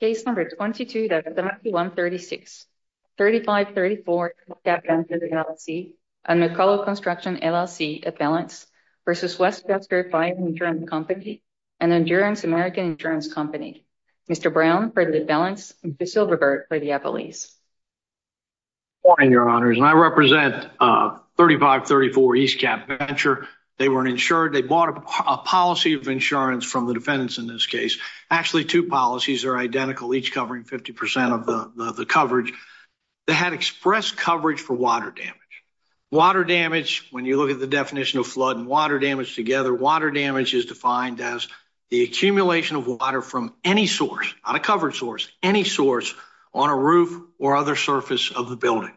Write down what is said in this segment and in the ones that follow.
Case number 22-7136, 3534 East Cap Venture, LLC and McCullough Construction, LLC at Balance v. Westchester Fire Insurance Company and Endurance American Insurance Company. Mr. Brown for the Balance and Mr. Silverberg for the Appellees. Good morning, Your Honors, and I represent 3534 East Cap Venture. They were insured. They bought a policy of insurance from the defendants in this case. Actually, two policies are identical, each covering 50% of the coverage. They had express coverage for water damage. Water damage, when you look at the definition of flood and water damage together, water damage is defined as the accumulation of water from any source, not a covered source, any source on a roof or other surface of the building.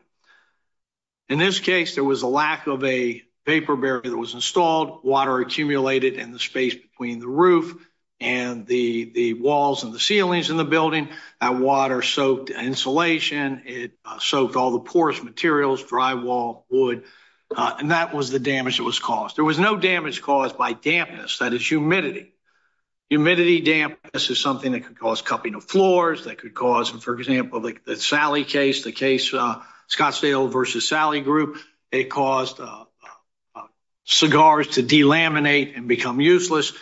In this case, there was a lack of a paper barrier that was installed. Water accumulated in the space between the roof and the walls and the ceilings in the building. That water soaked insulation. It soaked all the porous materials, drywall, wood, and that was the damage that was caused. There was no damage caused by dampness. That is humidity. Humidity dampness is something that could cause cupping of floors, that could cause, for example, the Sally case, the case Scottsdale v. Sally Group, it caused cigars to delaminate and become useless.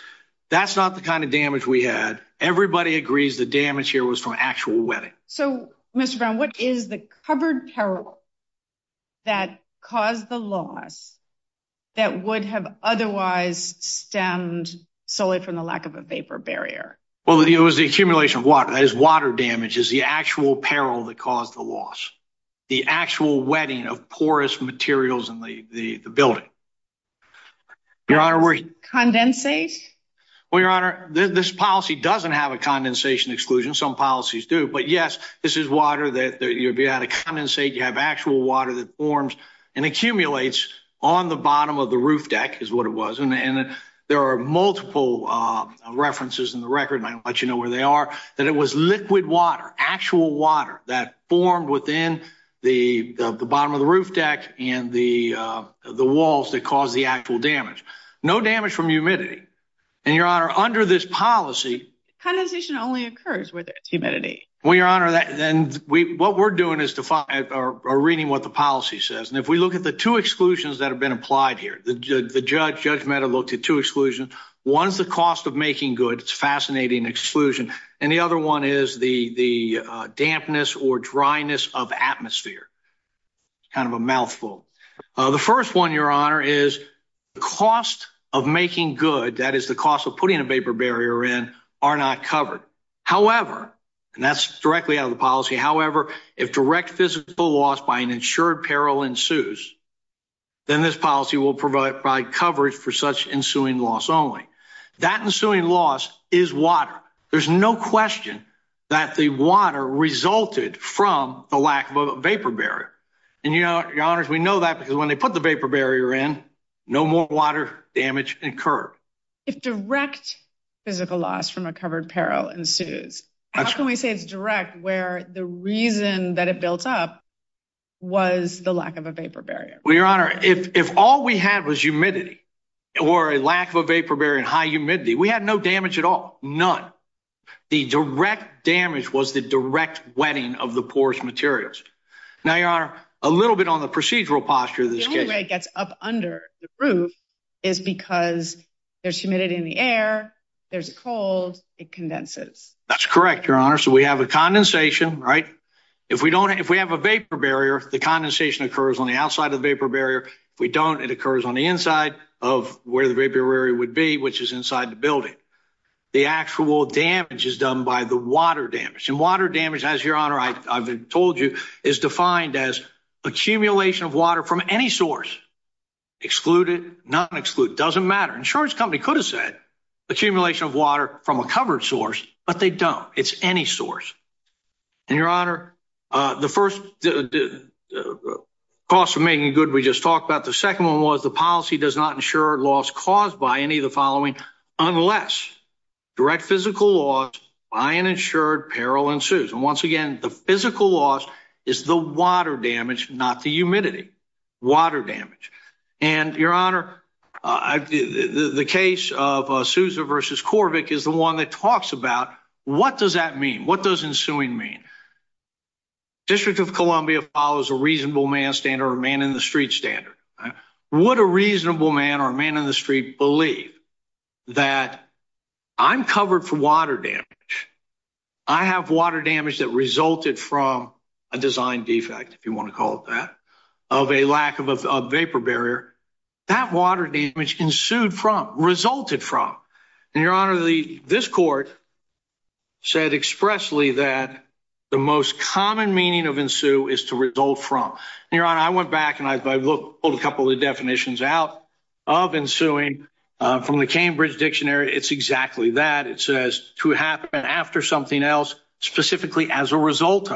That's not the kind of damage we had. Everybody agrees the damage here was from actual wetting. So, Mr. Brown, what is the covered peril that caused the loss that would have otherwise stemmed solely from the lack of a vapor barrier? Well, it was the accumulation of water. That is water damage is the actual peril that caused the actual wetting of porous materials in the building. Your Honor, were you... Condensate? Well, Your Honor, this policy doesn't have a condensation exclusion. Some policies do. But yes, this is water that you'd be able to condensate. You have actual water that forms and accumulates on the bottom of the roof deck is what it was. There are multiple references in the record, and I'll let you know where they are, that it was liquid water, actual water that formed within the bottom of the roof deck and the walls that caused the actual damage. No damage from humidity. And, Your Honor, under this policy... Condensation only occurs where there's humidity. Well, Your Honor, what we're doing is reading what the policy says. And if we look at the two exclusions that have been applied here, the judge, Judge Mehta, looked at two exclusions. One's the cost of making goods. It's a fascinating exclusion. And the other one is the dampness or dryness of atmosphere. It's kind of a mouthful. The first one, Your Honor, is the cost of making good, that is the cost of putting a vapor barrier in, are not covered. However, and that's directly out of the policy. However, if direct physical loss by an insured peril ensues, then this policy will provide coverage for such ensuing loss only. That ensuing loss is water. There's no question that the water resulted from the lack of a vapor barrier. And, Your Honor, we know that because when they put the vapor barrier in, no more water damage occurred. If direct physical loss from a covered peril ensues, how can we say it's direct where the reason that it built up was the lack of a vapor barrier? Well, Your Honor, if all we had was humidity or a lack of a vapor barrier and high humidity, we had no damage at all. None. The direct damage was the direct wetting of the porous materials. Now, Your Honor, a little bit on the procedural posture of this case. The only way it gets up under the roof is because there's humidity in the air, there's a cold, it condenses. That's correct, Your Honor. So we have a condensation, right? If we don't, if we have a vapor barrier, the condensation occurs on the outside of the vapor barrier. If we don't, it occurs on the inside of where the vapor barrier would be, which is inside the building. The actual damage is done by the water damage. And water damage, as Your Honor, I've told you, is defined as accumulation of water from any source. Excluded, non-exclude, doesn't matter. Insurance company could have said accumulation of water from a covered source, but they don't. It's any source. And Your Honor, the first cost of making good we just talked about, the second one was the policy does not ensure loss caused by any of the following unless direct physical loss by an insured peril ensues. And once again, the physical loss is the water damage, not the humidity. Water damage. And Your Honor, the case of Sousa versus Corvick is the one that talks about what does that mean? What does ensuing mean? District of Columbia follows a reasonable man standard, a man in the street standard. Would a reasonable man or a man in the street believe that I'm covered for water damage? I have water damage that resulted from a design defect, if you want to call it that, of a lack of a vapor barrier. That water damage ensued from, resulted from. And Your Honor, this court said expressly that the most common meaning of ensue is to result from. Your Honor, I went back and I pulled a couple of definitions out of ensuing from the Cambridge Dictionary. It's exactly that. It says to happen after something else, specifically as a result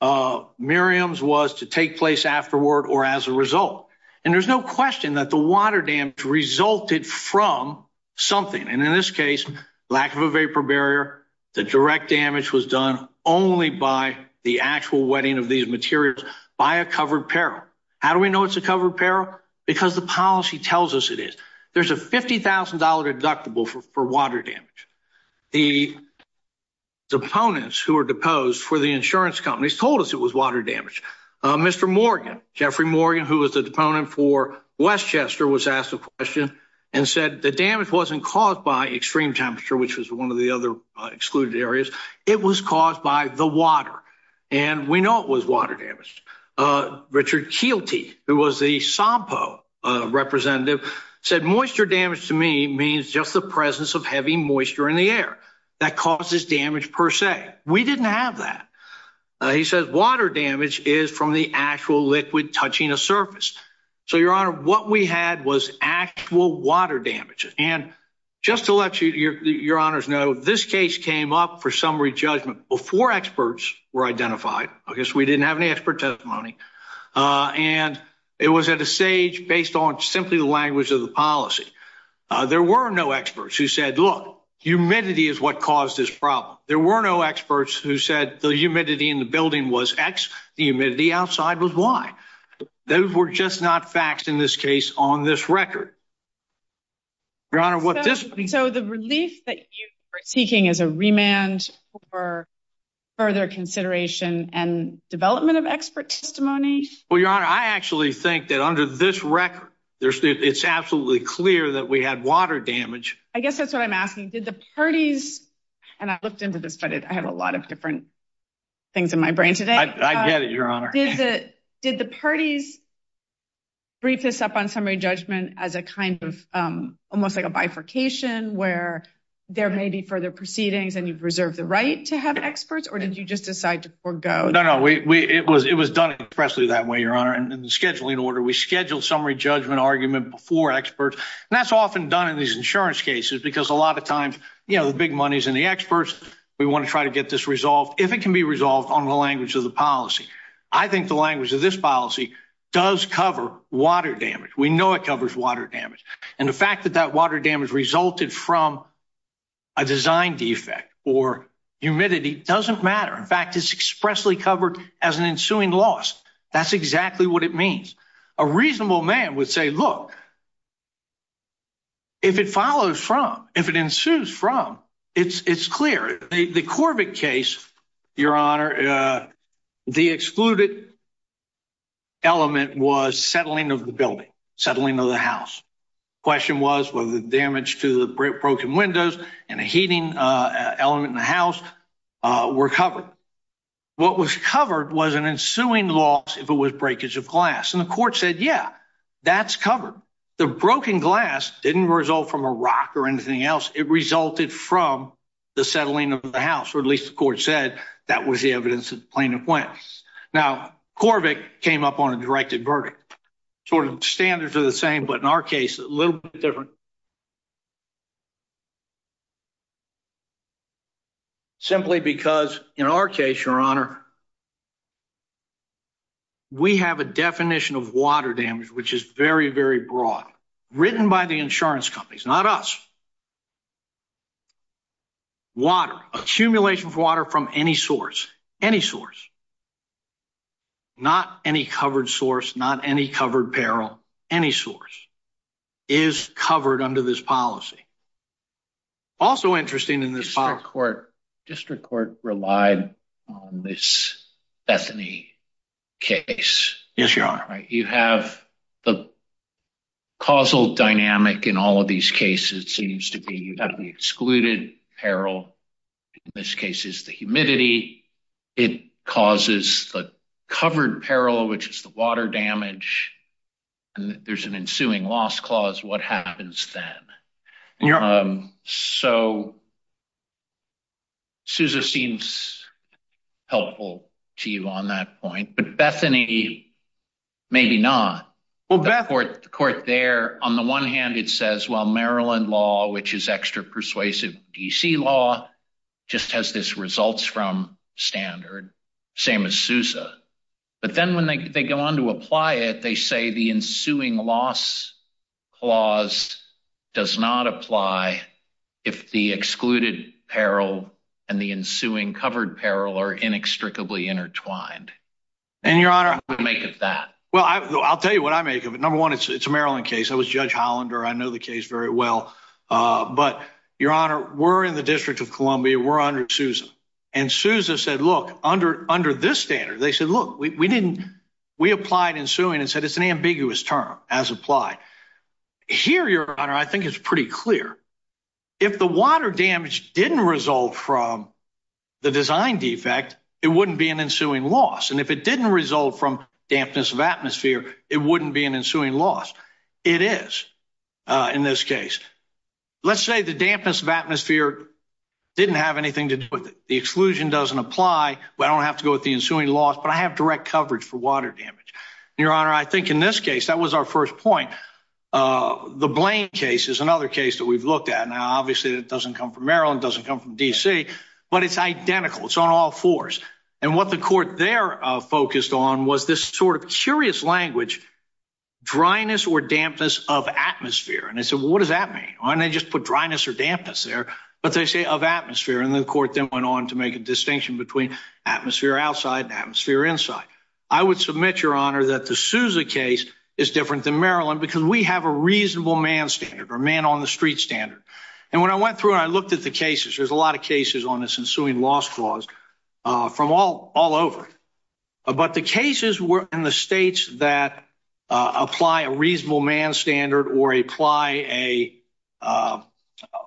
of. Miriam's was to take place afterward or as a result. And there's no question that the water damage resulted from something. And in this case, lack of a vapor barrier, the direct damage was done only by the actual wetting of these materials by a covered peril. How do we know it's a covered peril? Because the policy tells us it is. There's a $50,000 deductible for water damage. The opponents who are deposed for the insurance companies told us it was water damage. Mr. Morgan, Jeffrey Morgan, who was the deponent for Westchester was asked a question and said the damage wasn't caused by extreme temperature, which was one of the other excluded areas. It was caused by the water. And we know it was water damage. Richard Kielty, who was the SOMPO representative, said moisture damage to me means just the presence of heavy moisture in the air that causes damage per se. We didn't have that. He says water damage is from the actual liquid touching a surface. So, Your Honor, what we had was actual water damage. And just to let Your Honors know, this case came up for summary judgment before experts were identified. I guess we didn't have any expert testimony. And it was at a stage based on simply the language of the policy. There were no experts who said, look, humidity is what caused this problem. There were no experts who said the humidity in the building was X. The humidity outside was Y. Those were just not facts in this case on this record. Your Honor, what this means- Remand for further consideration and development of expert testimony? Well, Your Honor, I actually think that under this record, it's absolutely clear that we had water damage. I guess that's what I'm asking. Did the parties- and I looked into this, but I have a lot of different things in my brain today. I get it, Your Honor. Did the parties brief this up on summary judgment as a kind of- almost like a bifurcation where there may be further proceedings and you've reserved the right to have experts? Or did you just decide to forego? No, no, it was done expressly that way, Your Honor, in the scheduling order. We scheduled summary judgment argument before experts. And that's often done in these insurance cases because a lot of times, you know, the big money's in the experts. We want to try to get this resolved, if it can be resolved on the language of the policy. I think the language of this policy does cover water damage. We know it covers water damage. And the fact that that water damage resulted from a design defect or humidity doesn't matter. In fact, it's expressly covered as an ensuing loss. That's exactly what it means. A reasonable man would say, look, if it follows from, if it ensues from, it's clear. The Corbett case, Your Honor, the excluded element was settling of the building, settling of the house. Question was whether the damage to the broken windows and a heating element in the house were covered. What was covered was an ensuing loss if it was breakage of glass. And the court said, yeah, that's covered. The broken glass didn't result from a rock or anything else. It resulted from the settling of the house, or at least the court said that was the evidence that the plaintiff went. Now, Corbett came up on a directed verdict. Sort of standards are the same, but in our case, a little bit different, simply because in our case, Your Honor, we have a definition of water damage, which is very, very broad, written by the insurance companies, not us. Water, accumulation of water from any source, any source, not any covered source, not any covered peril, any source, is covered under this policy. Also interesting in this part of the court, District Court relied on this Bethany case. Yes, Your Honor. You have the causal dynamic in all of these cases seems to be, you have the excluded peril, in this case, is the humidity. It causes the covered peril, which is the water damage. And there's an ensuing loss clause. What happens then? So, Sousa seems helpful to you on that point. But Bethany, maybe not. The court there, on the one hand, it says, well, Maryland law, which is extra persuasive, DC law, just has this results from standard, same as Sousa. But then when they go on to apply it, they say the ensuing loss clause does not apply if the excluded peril and the ensuing covered peril are inextricably intertwined. And, Your Honor, What do you make of that? Well, I'll tell you what I make of it. Number one, it's a Maryland case. I was Judge Hollander. I know the case very well. But, Your Honor, we're in the District of Columbia. We're under Sousa. And Sousa said, look, under this standard, they said, look, we applied ensuing and said it's an ambiguous term, as applied. Here, Your Honor, I think it's pretty clear. If the water damage didn't result from the design defect, it wouldn't be an ensuing loss. And if it didn't result from dampness of atmosphere, it wouldn't be an ensuing loss. It is, in this case. Let's say the dampness of atmosphere didn't have anything to do with it. The exclusion doesn't apply. I don't have to go with the ensuing loss, but I have direct coverage for water damage. Your Honor, I think in this case, that was our first point. The Blaine case is another case that we've looked at. Now, obviously, it doesn't come from Maryland, doesn't come from D.C., but it's identical. It's on all fours. And what the court there focused on was this sort of curious language, dryness or dampness of atmosphere. And they said, well, what does that mean? And they just put dryness or dampness there. But they say of atmosphere. And the court then went on to make a distinction between atmosphere outside and atmosphere inside. I would submit, Your Honor, that the Souza case is different than Maryland, because we have a reasonable man standard or man on the street standard. And when I went through and I looked at the cases, there's a lot of cases on this ensuing loss clause from all over. But the cases in the states that apply a reasonable man standard or apply a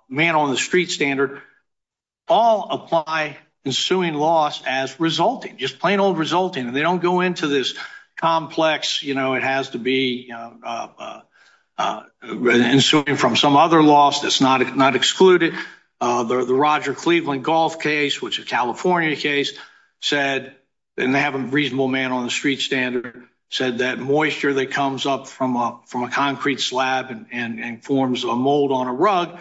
man on the street standard all apply ensuing loss as resulting, just plain old resulting. And they don't go into this complex, you know, it has to be ensuing from some other loss that's not excluded. The Roger Cleveland golf case, which is a California case, said, and they have a reasonable man on the street standard, said that moisture that comes up from a concrete slab and forms a mold on a rug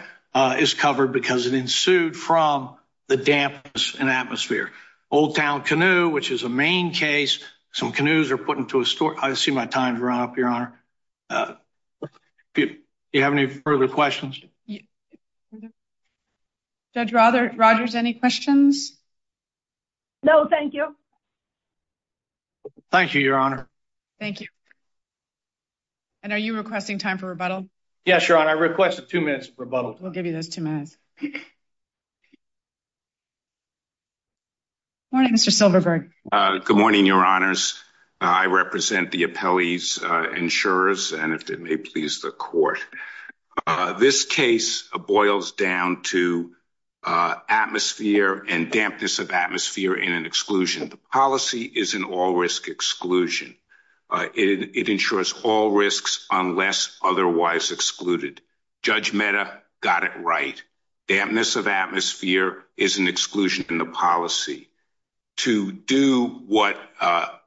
is covered because it ensued from the dampness in atmosphere. Old Town Canoe, which is a main case, some canoes are put into a store. I see my time's run up, Your Honor. Do you have any further questions? Judge Rogers, any questions? No, thank you. Thank you, Your Honor. Thank you. And are you requesting time for rebuttal? Yes, Your Honor, I requested two minutes for rebuttal. We'll give you those two minutes. Good morning, Mr. Silverberg. Good morning, Your Honors. This case boils down to atmosphere and dampness of atmosphere in an exclusion. The policy is an all-risk exclusion. It ensures all risks unless otherwise excluded. Judge Mehta got it right. Dampness of atmosphere is an exclusion in the policy. To do what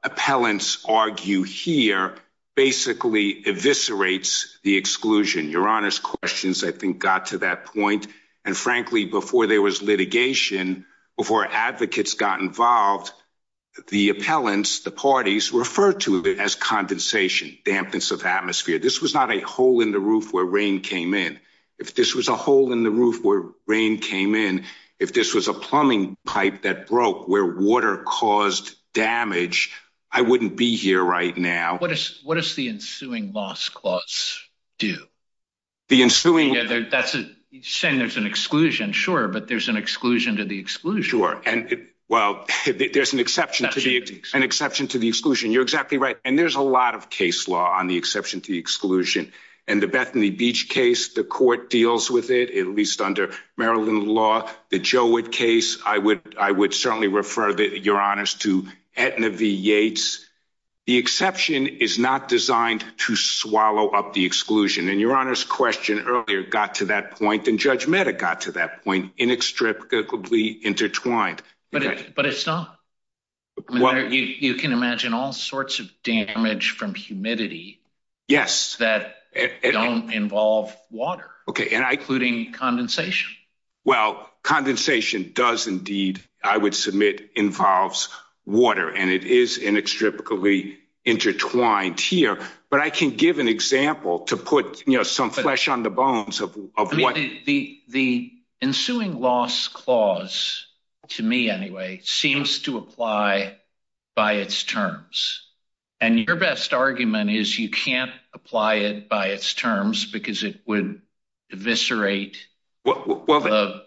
appellants argue here basically eviscerates the exclusion. Your Honor's questions, I think, got to that point. And frankly, before there was litigation, before advocates got involved, the appellants, the parties, referred to it as condensation, dampness of atmosphere. This was not a hole in the roof where rain came in. If this was a hole in the roof where rain came in, if this was a plumbing pipe that broke where water caused damage, I wouldn't be here right now. What does the ensuing loss clause do? The ensuing... Yeah, you're saying there's an exclusion. Sure, but there's an exclusion to the exclusion. Sure, and well, there's an exception to the exclusion. You're exactly right. And there's a lot of case law on the exception to the exclusion. In the Bethany Beach case, the court deals with it, at least under Maryland law. The Jowett case, I would certainly refer, Your Honors, to Aetna v. Yates. The exception is not designed to swallow up the exclusion. And Your Honor's question earlier got to that point, and Judge Mehta got to that point, inextricably intertwined. But it's not. You can imagine all sorts of damage from humidity that don't involve water, including condensation. Well, condensation does indeed, I would submit, involves water. And it is inextricably intertwined here. But I can give an example to put some flesh on the bones of what... The ensuing loss clause, to me anyway, seems to apply by its terms. And your best argument is you can't apply it by its terms because it would eviscerate...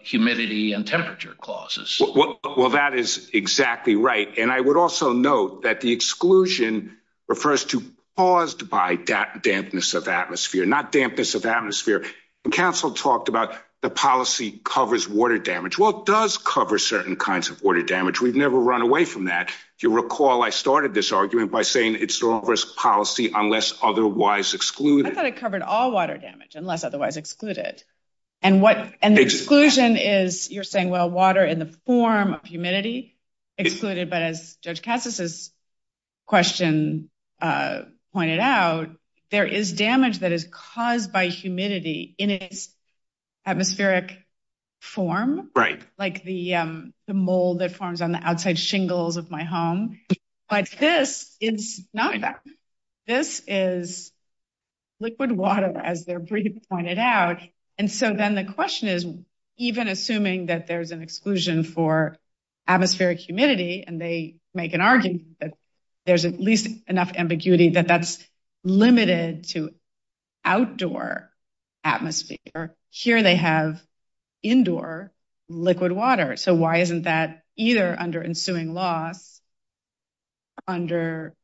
Humidity and temperature clauses. Well, that is exactly right. And I would also note that the exclusion refers to paused by dampness of atmosphere, not dampness of atmosphere. And counsel talked about the policy covers water damage. Well, it does cover certain kinds of water damage. We've never run away from that. If you recall, I started this argument by saying it's a policy unless otherwise excluded. I thought it covered all water damage, unless otherwise excluded. And the exclusion is you're saying, well, water in the form of humidity excluded. But as Judge Cassis's question pointed out, there is damage that is caused by humidity in its atmospheric form, like the mold that forms on the outside shingles of my home. But this is not that. This is liquid water, as their brief pointed out. And so then the question is, even assuming that there's an exclusion for atmospheric humidity, and they make an argument that there's at least enough ambiguity that that's limited to outdoor atmosphere. Here they have indoor liquid water. So why isn't that either under ensuing loss or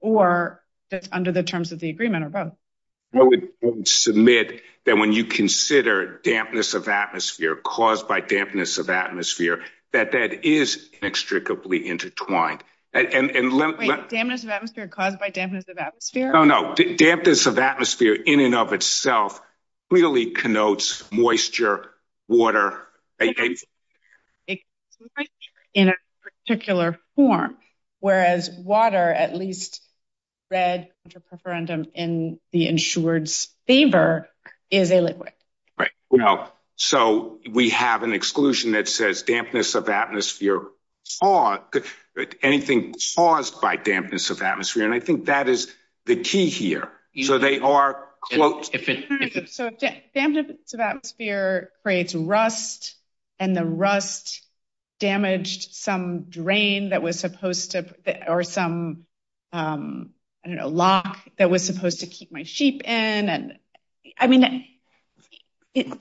under the terms of the agreement or both? I would submit that when you consider dampness of atmosphere caused by dampness of atmosphere, that that is inextricably intertwined. Wait, dampness of atmosphere caused by dampness of atmosphere? No, no. Dampness of atmosphere in and of itself clearly connotes moisture, water. It's moisture in a particular form. Whereas water, at least read under preferendum in the insured's favor, is a liquid. Right. Well, so we have an exclusion that says dampness of atmosphere, anything caused by dampness of atmosphere. And I think that is the key here. So they are, quote. So dampness of atmosphere creates rust and the rust damaged some drain that was supposed to, or some, I don't know, lock that was supposed to keep my sheep in. And I mean, I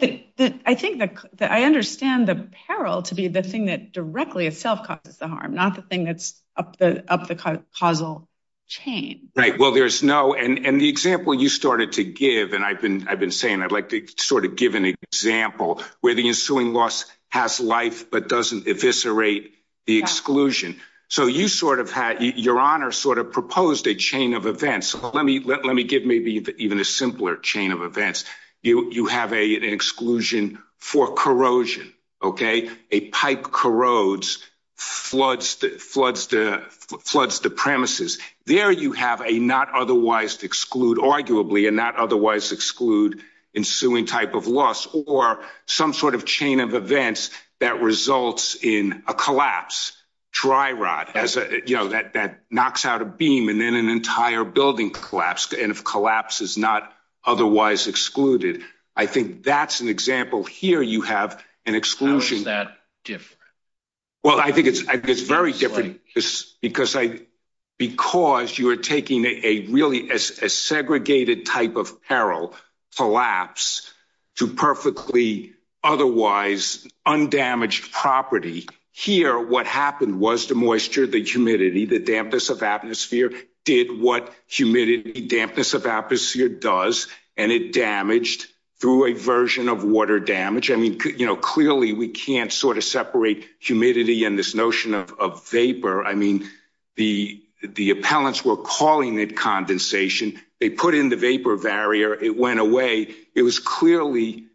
think that I understand the peril to be the thing that directly itself causes the harm, not the thing that's up the causal chain. Right. Well, there's no. And the example you started to give, and I've been saying, I'd like to sort of give an example where the ensuing loss has life, but doesn't eviscerate the exclusion. So you sort of had your honor sort of proposed a chain of events. Let me give maybe even a simpler chain of events. You have an exclusion for corrosion. OK, a pipe corrodes, floods the premises. There you have a not otherwise exclude arguably and not otherwise exclude ensuing type of loss or some sort of chain of events that results in a collapse. Dry rot as you know, that that knocks out a beam and then an entire building collapsed. And if collapse is not otherwise excluded, I think that's an example. Here you have an exclusion that different. Well, I think it's very different because I because you are taking a really segregated type of peril collapse to perfectly otherwise undamaged property here. What happened was the moisture, the humidity, the dampness of atmosphere did what humidity dampness of atmosphere does. And it damaged through a version of water damage. I mean, clearly we can't sort of separate humidity and this notion of vapor. I mean, the the appellants were calling it condensation. They put in the vapor barrier. It went away. It was clearly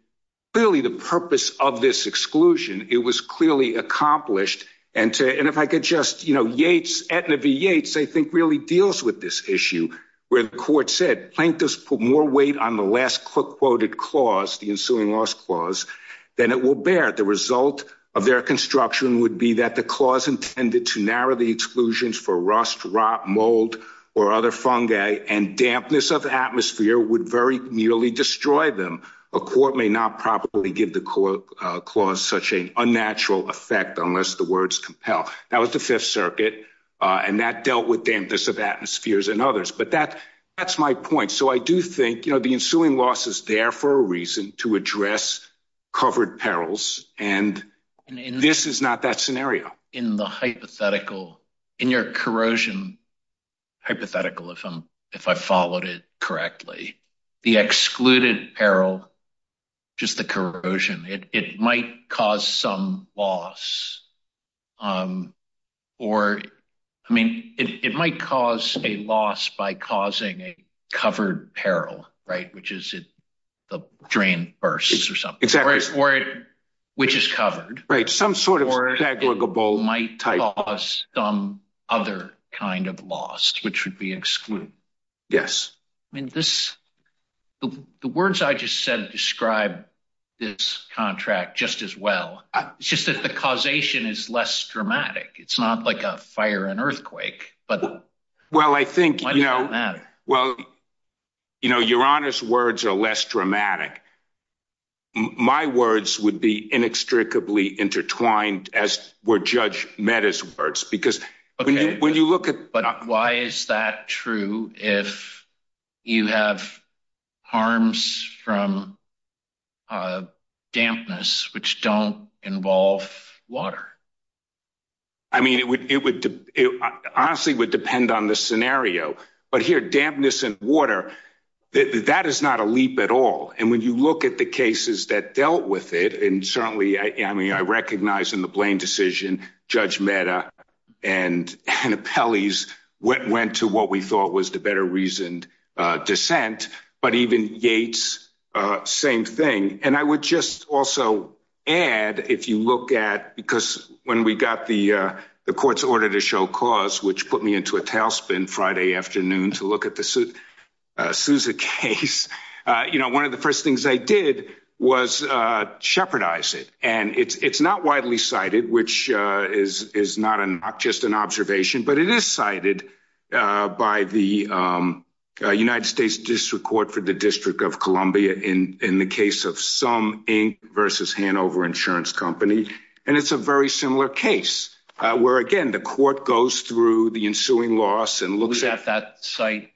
clearly the purpose of this exclusion. It was clearly accomplished. And and if I could just, you know, Yates, Etna v. Yates, I think really deals with this issue where the court said plaintiffs put more weight on the last quoted clause, the ensuing loss clause, then it will bear the result of their construction would be that the clause intended to narrow the exclusions for rust, rot, mold or other fungi and dampness of atmosphere would very nearly destroy them. A court may not properly give the court clause such a unnatural effect unless the words compel. That was the Fifth Circuit and that dealt with dampness of atmospheres and others. But that that's my point. So I do think, you know, the ensuing loss is there for a reason to address covered perils. And this is not that scenario in the hypothetical, in your corrosion hypothetical. If I'm if I followed it correctly, the excluded peril, just the corrosion, it might cause some loss or I mean, it might cause a loss by causing a covered peril. Right. Which is it? The drain bursts or something. Exactly. Or which is covered. Right. Some sort of aggregable might cause some other kind of loss which would be excluded. Yes. I mean, this the words I just said describe this contract just as well. It's just that the causation is less dramatic. It's not like a fire, an earthquake. But well, I think, you know, well, you know, your Honour's words are less dramatic. My words would be inextricably intertwined, as were Judge Mehta's words, because when you look But why is that true if you have harms from dampness which don't involve water? I mean, it would it honestly would depend on the scenario. But here dampness and water, that is not a leap at all. And when you look at the cases that dealt with it, and certainly I mean, the Blaine decision, Judge Mehta and Pelley's went to what we thought was the better reasoned dissent, but even Yates, same thing. And I would just also add, if you look at because when we got the court's order to show cause, which put me into a tailspin Friday afternoon to look at the Sousa case, you know, one of the which is not just an observation, but it is cited by the United States District Court for the District of Columbia in the case of Sum Inc. versus Hanover Insurance Company. And it's a very similar case, where, again, the court goes through the ensuing loss and looks at that site.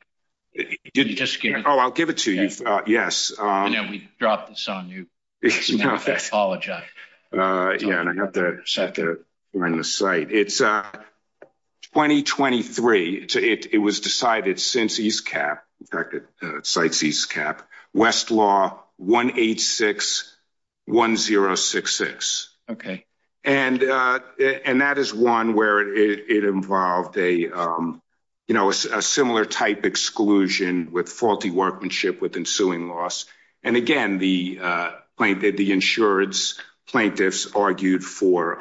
Oh, I'll give it to you. Yes. We dropped this on you. Apologize. Yeah, and I have to check it on the site. It's 2023. It was decided since East Cap, in fact, it cites East Cap, Westlaw 186-1066. Okay. And that is one where it involved a, you know, a similar type exclusion with faulty workmanship with ensuing loss. And again, the plaintiff, the insurance plaintiffs argued for,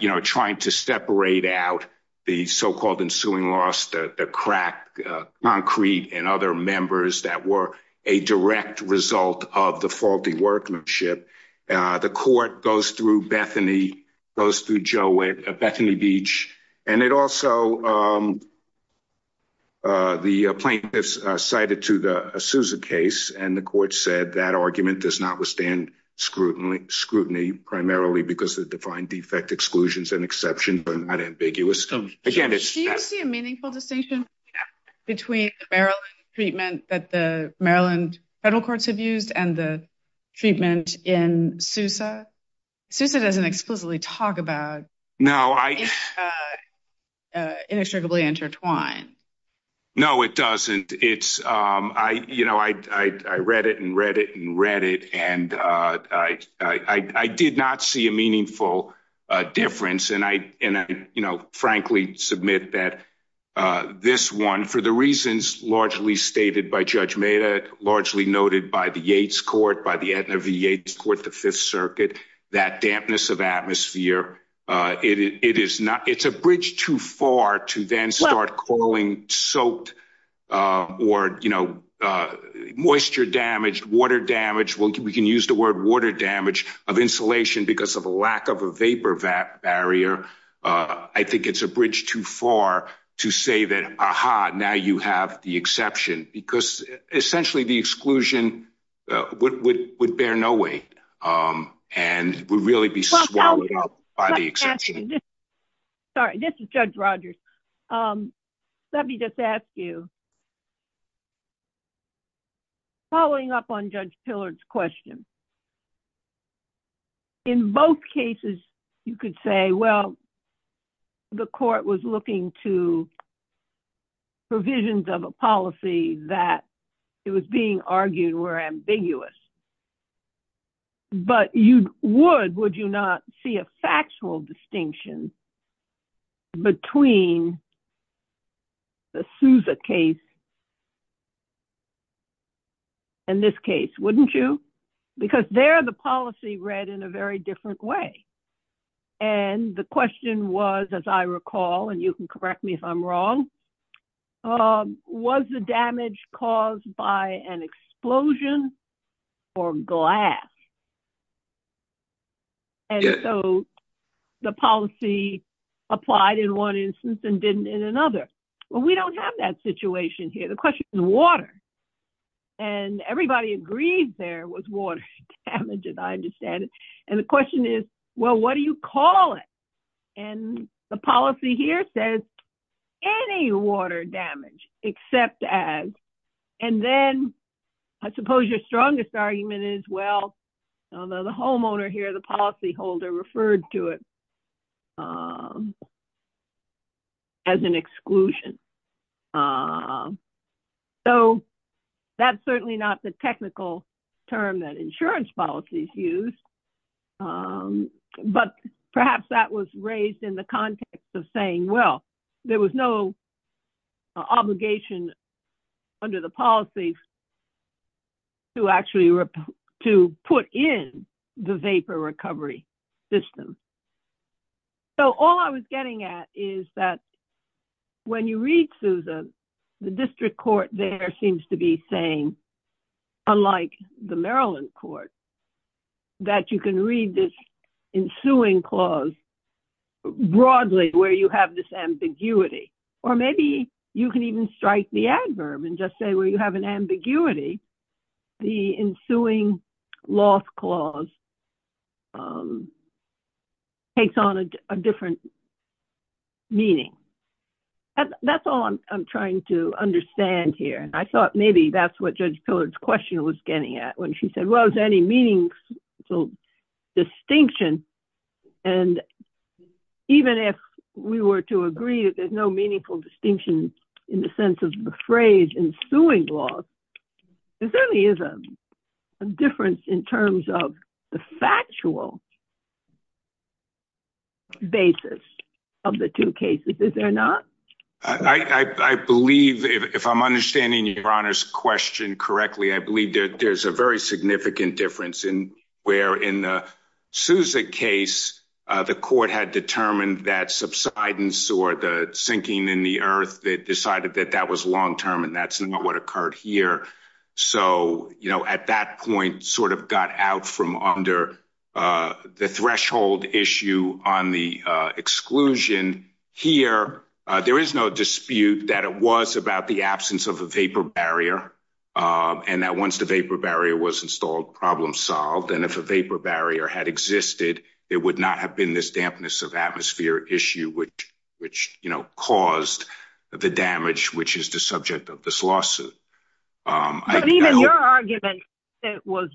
you know, trying to separate out the so-called ensuing loss, the crack, concrete and other members that were a direct result of the faulty workmanship. The court goes through Bethany, goes through Joe, Bethany Beach. And it also, the plaintiffs cited to the Sousa case, and the court said that argument does not withstand scrutiny, primarily because the defined defect exclusions and exceptions are not ambiguous. Do you see a meaningful distinction between the Maryland treatment that the Maryland federal courts have used and the treatment in Sousa? Sousa doesn't explicitly talk about. No, I. Inextricably intertwined. No, it doesn't. It's, you know, I read it and read it and read it. And I did not see a meaningful difference. And I, you know, frankly submit that this one, for the reasons largely stated by Judge Mada, largely noted by the Yates court, by the Aetna v. The Fifth Circuit, that dampness of atmosphere, it is not it's a bridge too far to then start calling soaked or, you know, moisture damage, water damage. Well, we can use the word water damage of insulation because of a lack of a vapor barrier. I think it's a bridge too far to say that, aha, now you have the exception because essentially the exclusion would bear no weight. And we'd really be swallowed up by the exception. Sorry, this is Judge Rogers. Let me just ask you, following up on Judge Pillard's question, in both cases, you could say, well, the court was looking to provisions of a policy that it was being argued were ambiguous. But you would, would you not see a factual distinction between the Souza case and this case, wouldn't you? Because there the policy read in a very different way. And the question was, as I recall, and you can correct me if I'm wrong, was the damage caused by an explosion or glass. And so the policy applied in one instance and didn't in another. Well, we don't have that situation here. The question is water. And everybody agrees there was water damage, as I understand it. And the question is, well, what do you call it? And the policy here says any water damage except as. And then I suppose your strongest argument is, well, the homeowner here, the policy holder referred to it as an exclusion. So that's certainly not the technical term that insurance policies use. But perhaps that was raised in the context of saying, well, there was no obligation under the policy to actually to put in the vapor recovery system. So all I was getting at is that when you read Souza, the district court there seems to be saying, unlike the Maryland court, that you can read this ensuing clause broadly where you have this ambiguity. Or maybe you can even strike the adverb and just say, well, you have an ambiguity. The ensuing loss clause takes on a different meaning. That's all I'm trying to understand here. I thought maybe that's what Judge Pillard's question was getting at when she said, well, is there any meaningful distinction? And even if we were to agree that there's no meaningful distinction in the sense of the phrase ensuing loss, there certainly is a difference in terms of the factual basis of the two cases. Is there not? I believe, if I'm understanding your Honor's question correctly, I believe that there's a very significant difference in where in the Souza case, the court had determined that subsidence or the sinking in the earth, they decided that that was long term and that's not what occurred here. So, you know, at that point, sort of got out from under the threshold issue on the exclusion here, there is no dispute that it was about the absence of a vapor barrier and that once the vapor barrier was installed, problem solved. And if a vapor barrier had existed, it would not have been this dampness of atmosphere issue, which, you know, caused the damage, which is the subject of this lawsuit. But even your argument that it was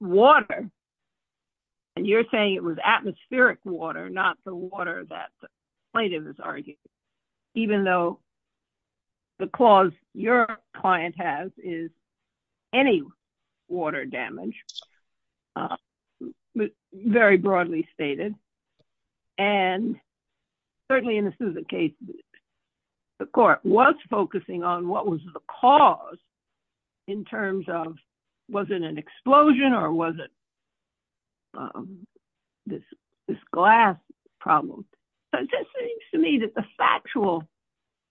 water, and you're saying it was atmospheric water, not the water that the plaintiff is arguing, even though the clause your client has is any water damage, very broadly stated. And certainly in the Souza case, the court was focusing on what was the cause in terms of, was it an explosion or was it this glass problem? So it seems to me that the factual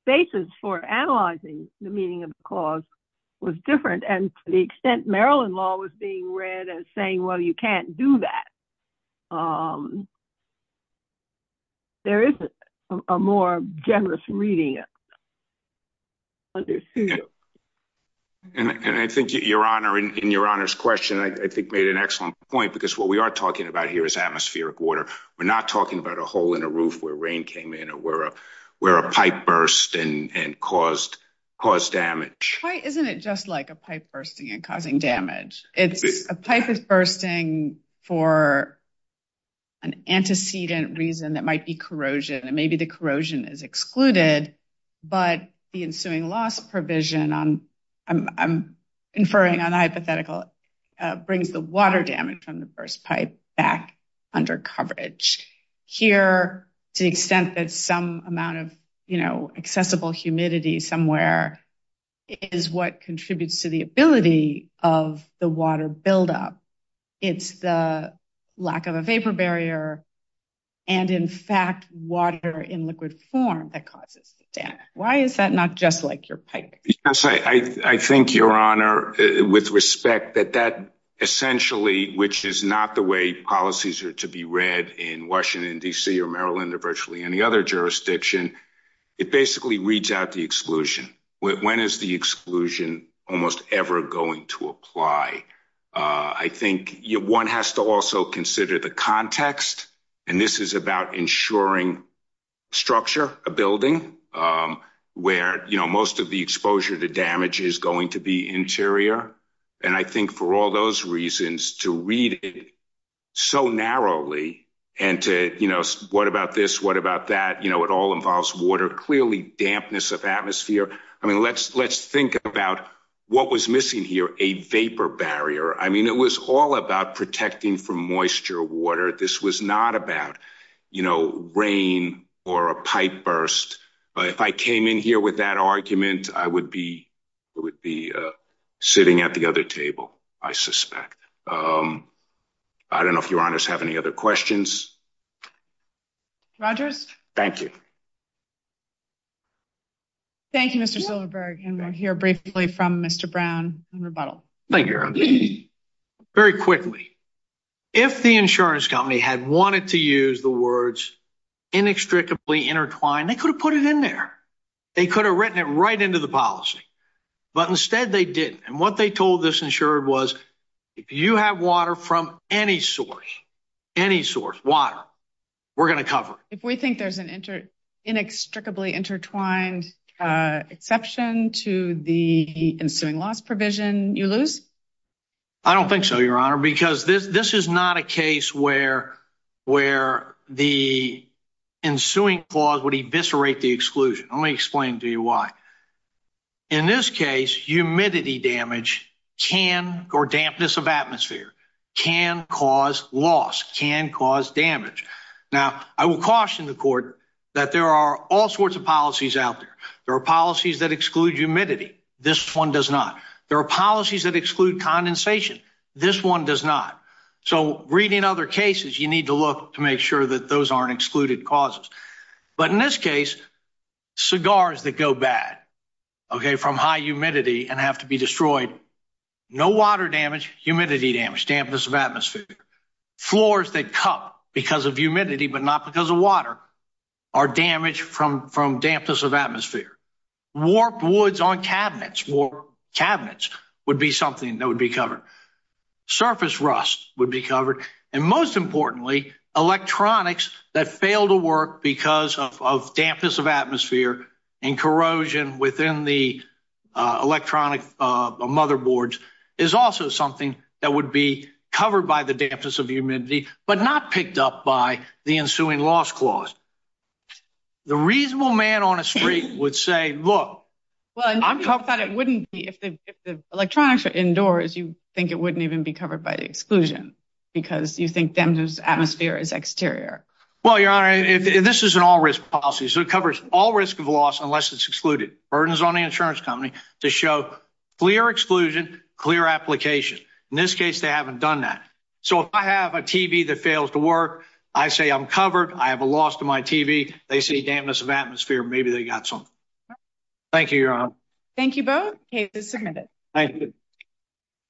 basis for analyzing the meaning of the clause was different and to the extent Maryland law was being read as saying, well, you can't do that. There is a more generous reading. And I think your Honor, in your Honor's question, I think made an excellent point because what we are talking about here is atmospheric water. We're not talking about a hole in a roof where rain came in or where a pipe burst and caused damage. Why isn't it just like a pipe bursting and causing damage? It's a pipe bursting for an antecedent reason that might be corrosion and maybe the corrosion is excluded, but the ensuing loss provision, I'm inferring on the hypothetical, brings the water damage from the burst pipe back under coverage here to the extent that some amount of accessible humidity somewhere is what contributes to the ability of the water buildup. It's the lack of a vapor barrier and in fact, water in liquid form that causes the damage. Why is that not just like your pipe? Yes, I think your Honor, with respect that that essentially, which is not the way policies are to be read in Washington, D.C. or Maryland or virtually any other jurisdiction, it basically reads out the exclusion. When is the exclusion almost ever going to apply? I think one has to also consider the context and this is about ensuring structure, a building where most of the exposure to damage is going to be interior and I think for all those reasons, to read it so narrowly and to, what about this? What about that? It all involves water, clearly dampness of atmosphere. I mean, let's think about what was missing here, a vapor barrier. I mean, it was all about protecting from moisture, water. This was not about rain or a pipe burst. If I came in here with that argument, I would be sitting at the other table, I suspect. I don't know if your Honors have any other questions. Rogers. Thank you. Thank you, Mr. Silverberg. And we'll hear briefly from Mr. Brown on rebuttal. Thank you, very quickly. If the insurance company had wanted to use the words inextricably intertwined, they could have put it in there. They could have written it right into the policy, but instead they didn't. And what they told this insured was, if you have water from any source, any source, water, we're going to cover it. If we think there's an inextricably intertwined exception to the ensuing loss provision, you lose? I don't think so, your Honor, because this is not a case where the ensuing clause would eviscerate the exclusion. Let me explain to you why. In this case, humidity damage can, or dampness of atmosphere, can cause loss, can cause damage. Now, I will caution the Court that there are all sorts of policies out there. There are policies that exclude humidity. This one does not. There are policies that exclude condensation. This one does not. So reading other cases, you need to look to make sure that those aren't excluded causes. But in this case, cigars that go bad, okay, from high humidity and have to be destroyed, no water damage, humidity damage, dampness of atmosphere, floors that cup because of humidity but not because of water, are damaged from dampness of atmosphere. Warped woods on cabinets, cabinets, would be something that would be covered. Surface rust would be covered. And most importantly, electronics that fail to work because of dampness of atmosphere and corrosion within the electronic motherboards is also something that would be covered by dampness of humidity but not picked up by the ensuing loss clause. The reasonable man on the street would say, look. Well, I thought it wouldn't be if the electronics are indoors. You think it wouldn't even be covered by the exclusion because you think dampness of atmosphere is exterior. Well, Your Honor, this is an all-risk policy. So it covers all risk of loss unless it's excluded. Burdens on the insurance company to show clear exclusion, clear application. In this case, they haven't done that. If I have a TV that fails to work, I say I'm covered. I have a loss to my TV. They say dampness of atmosphere. Maybe they got something. Thank you, Your Honor. Thank you both. Case is submitted. Thank you.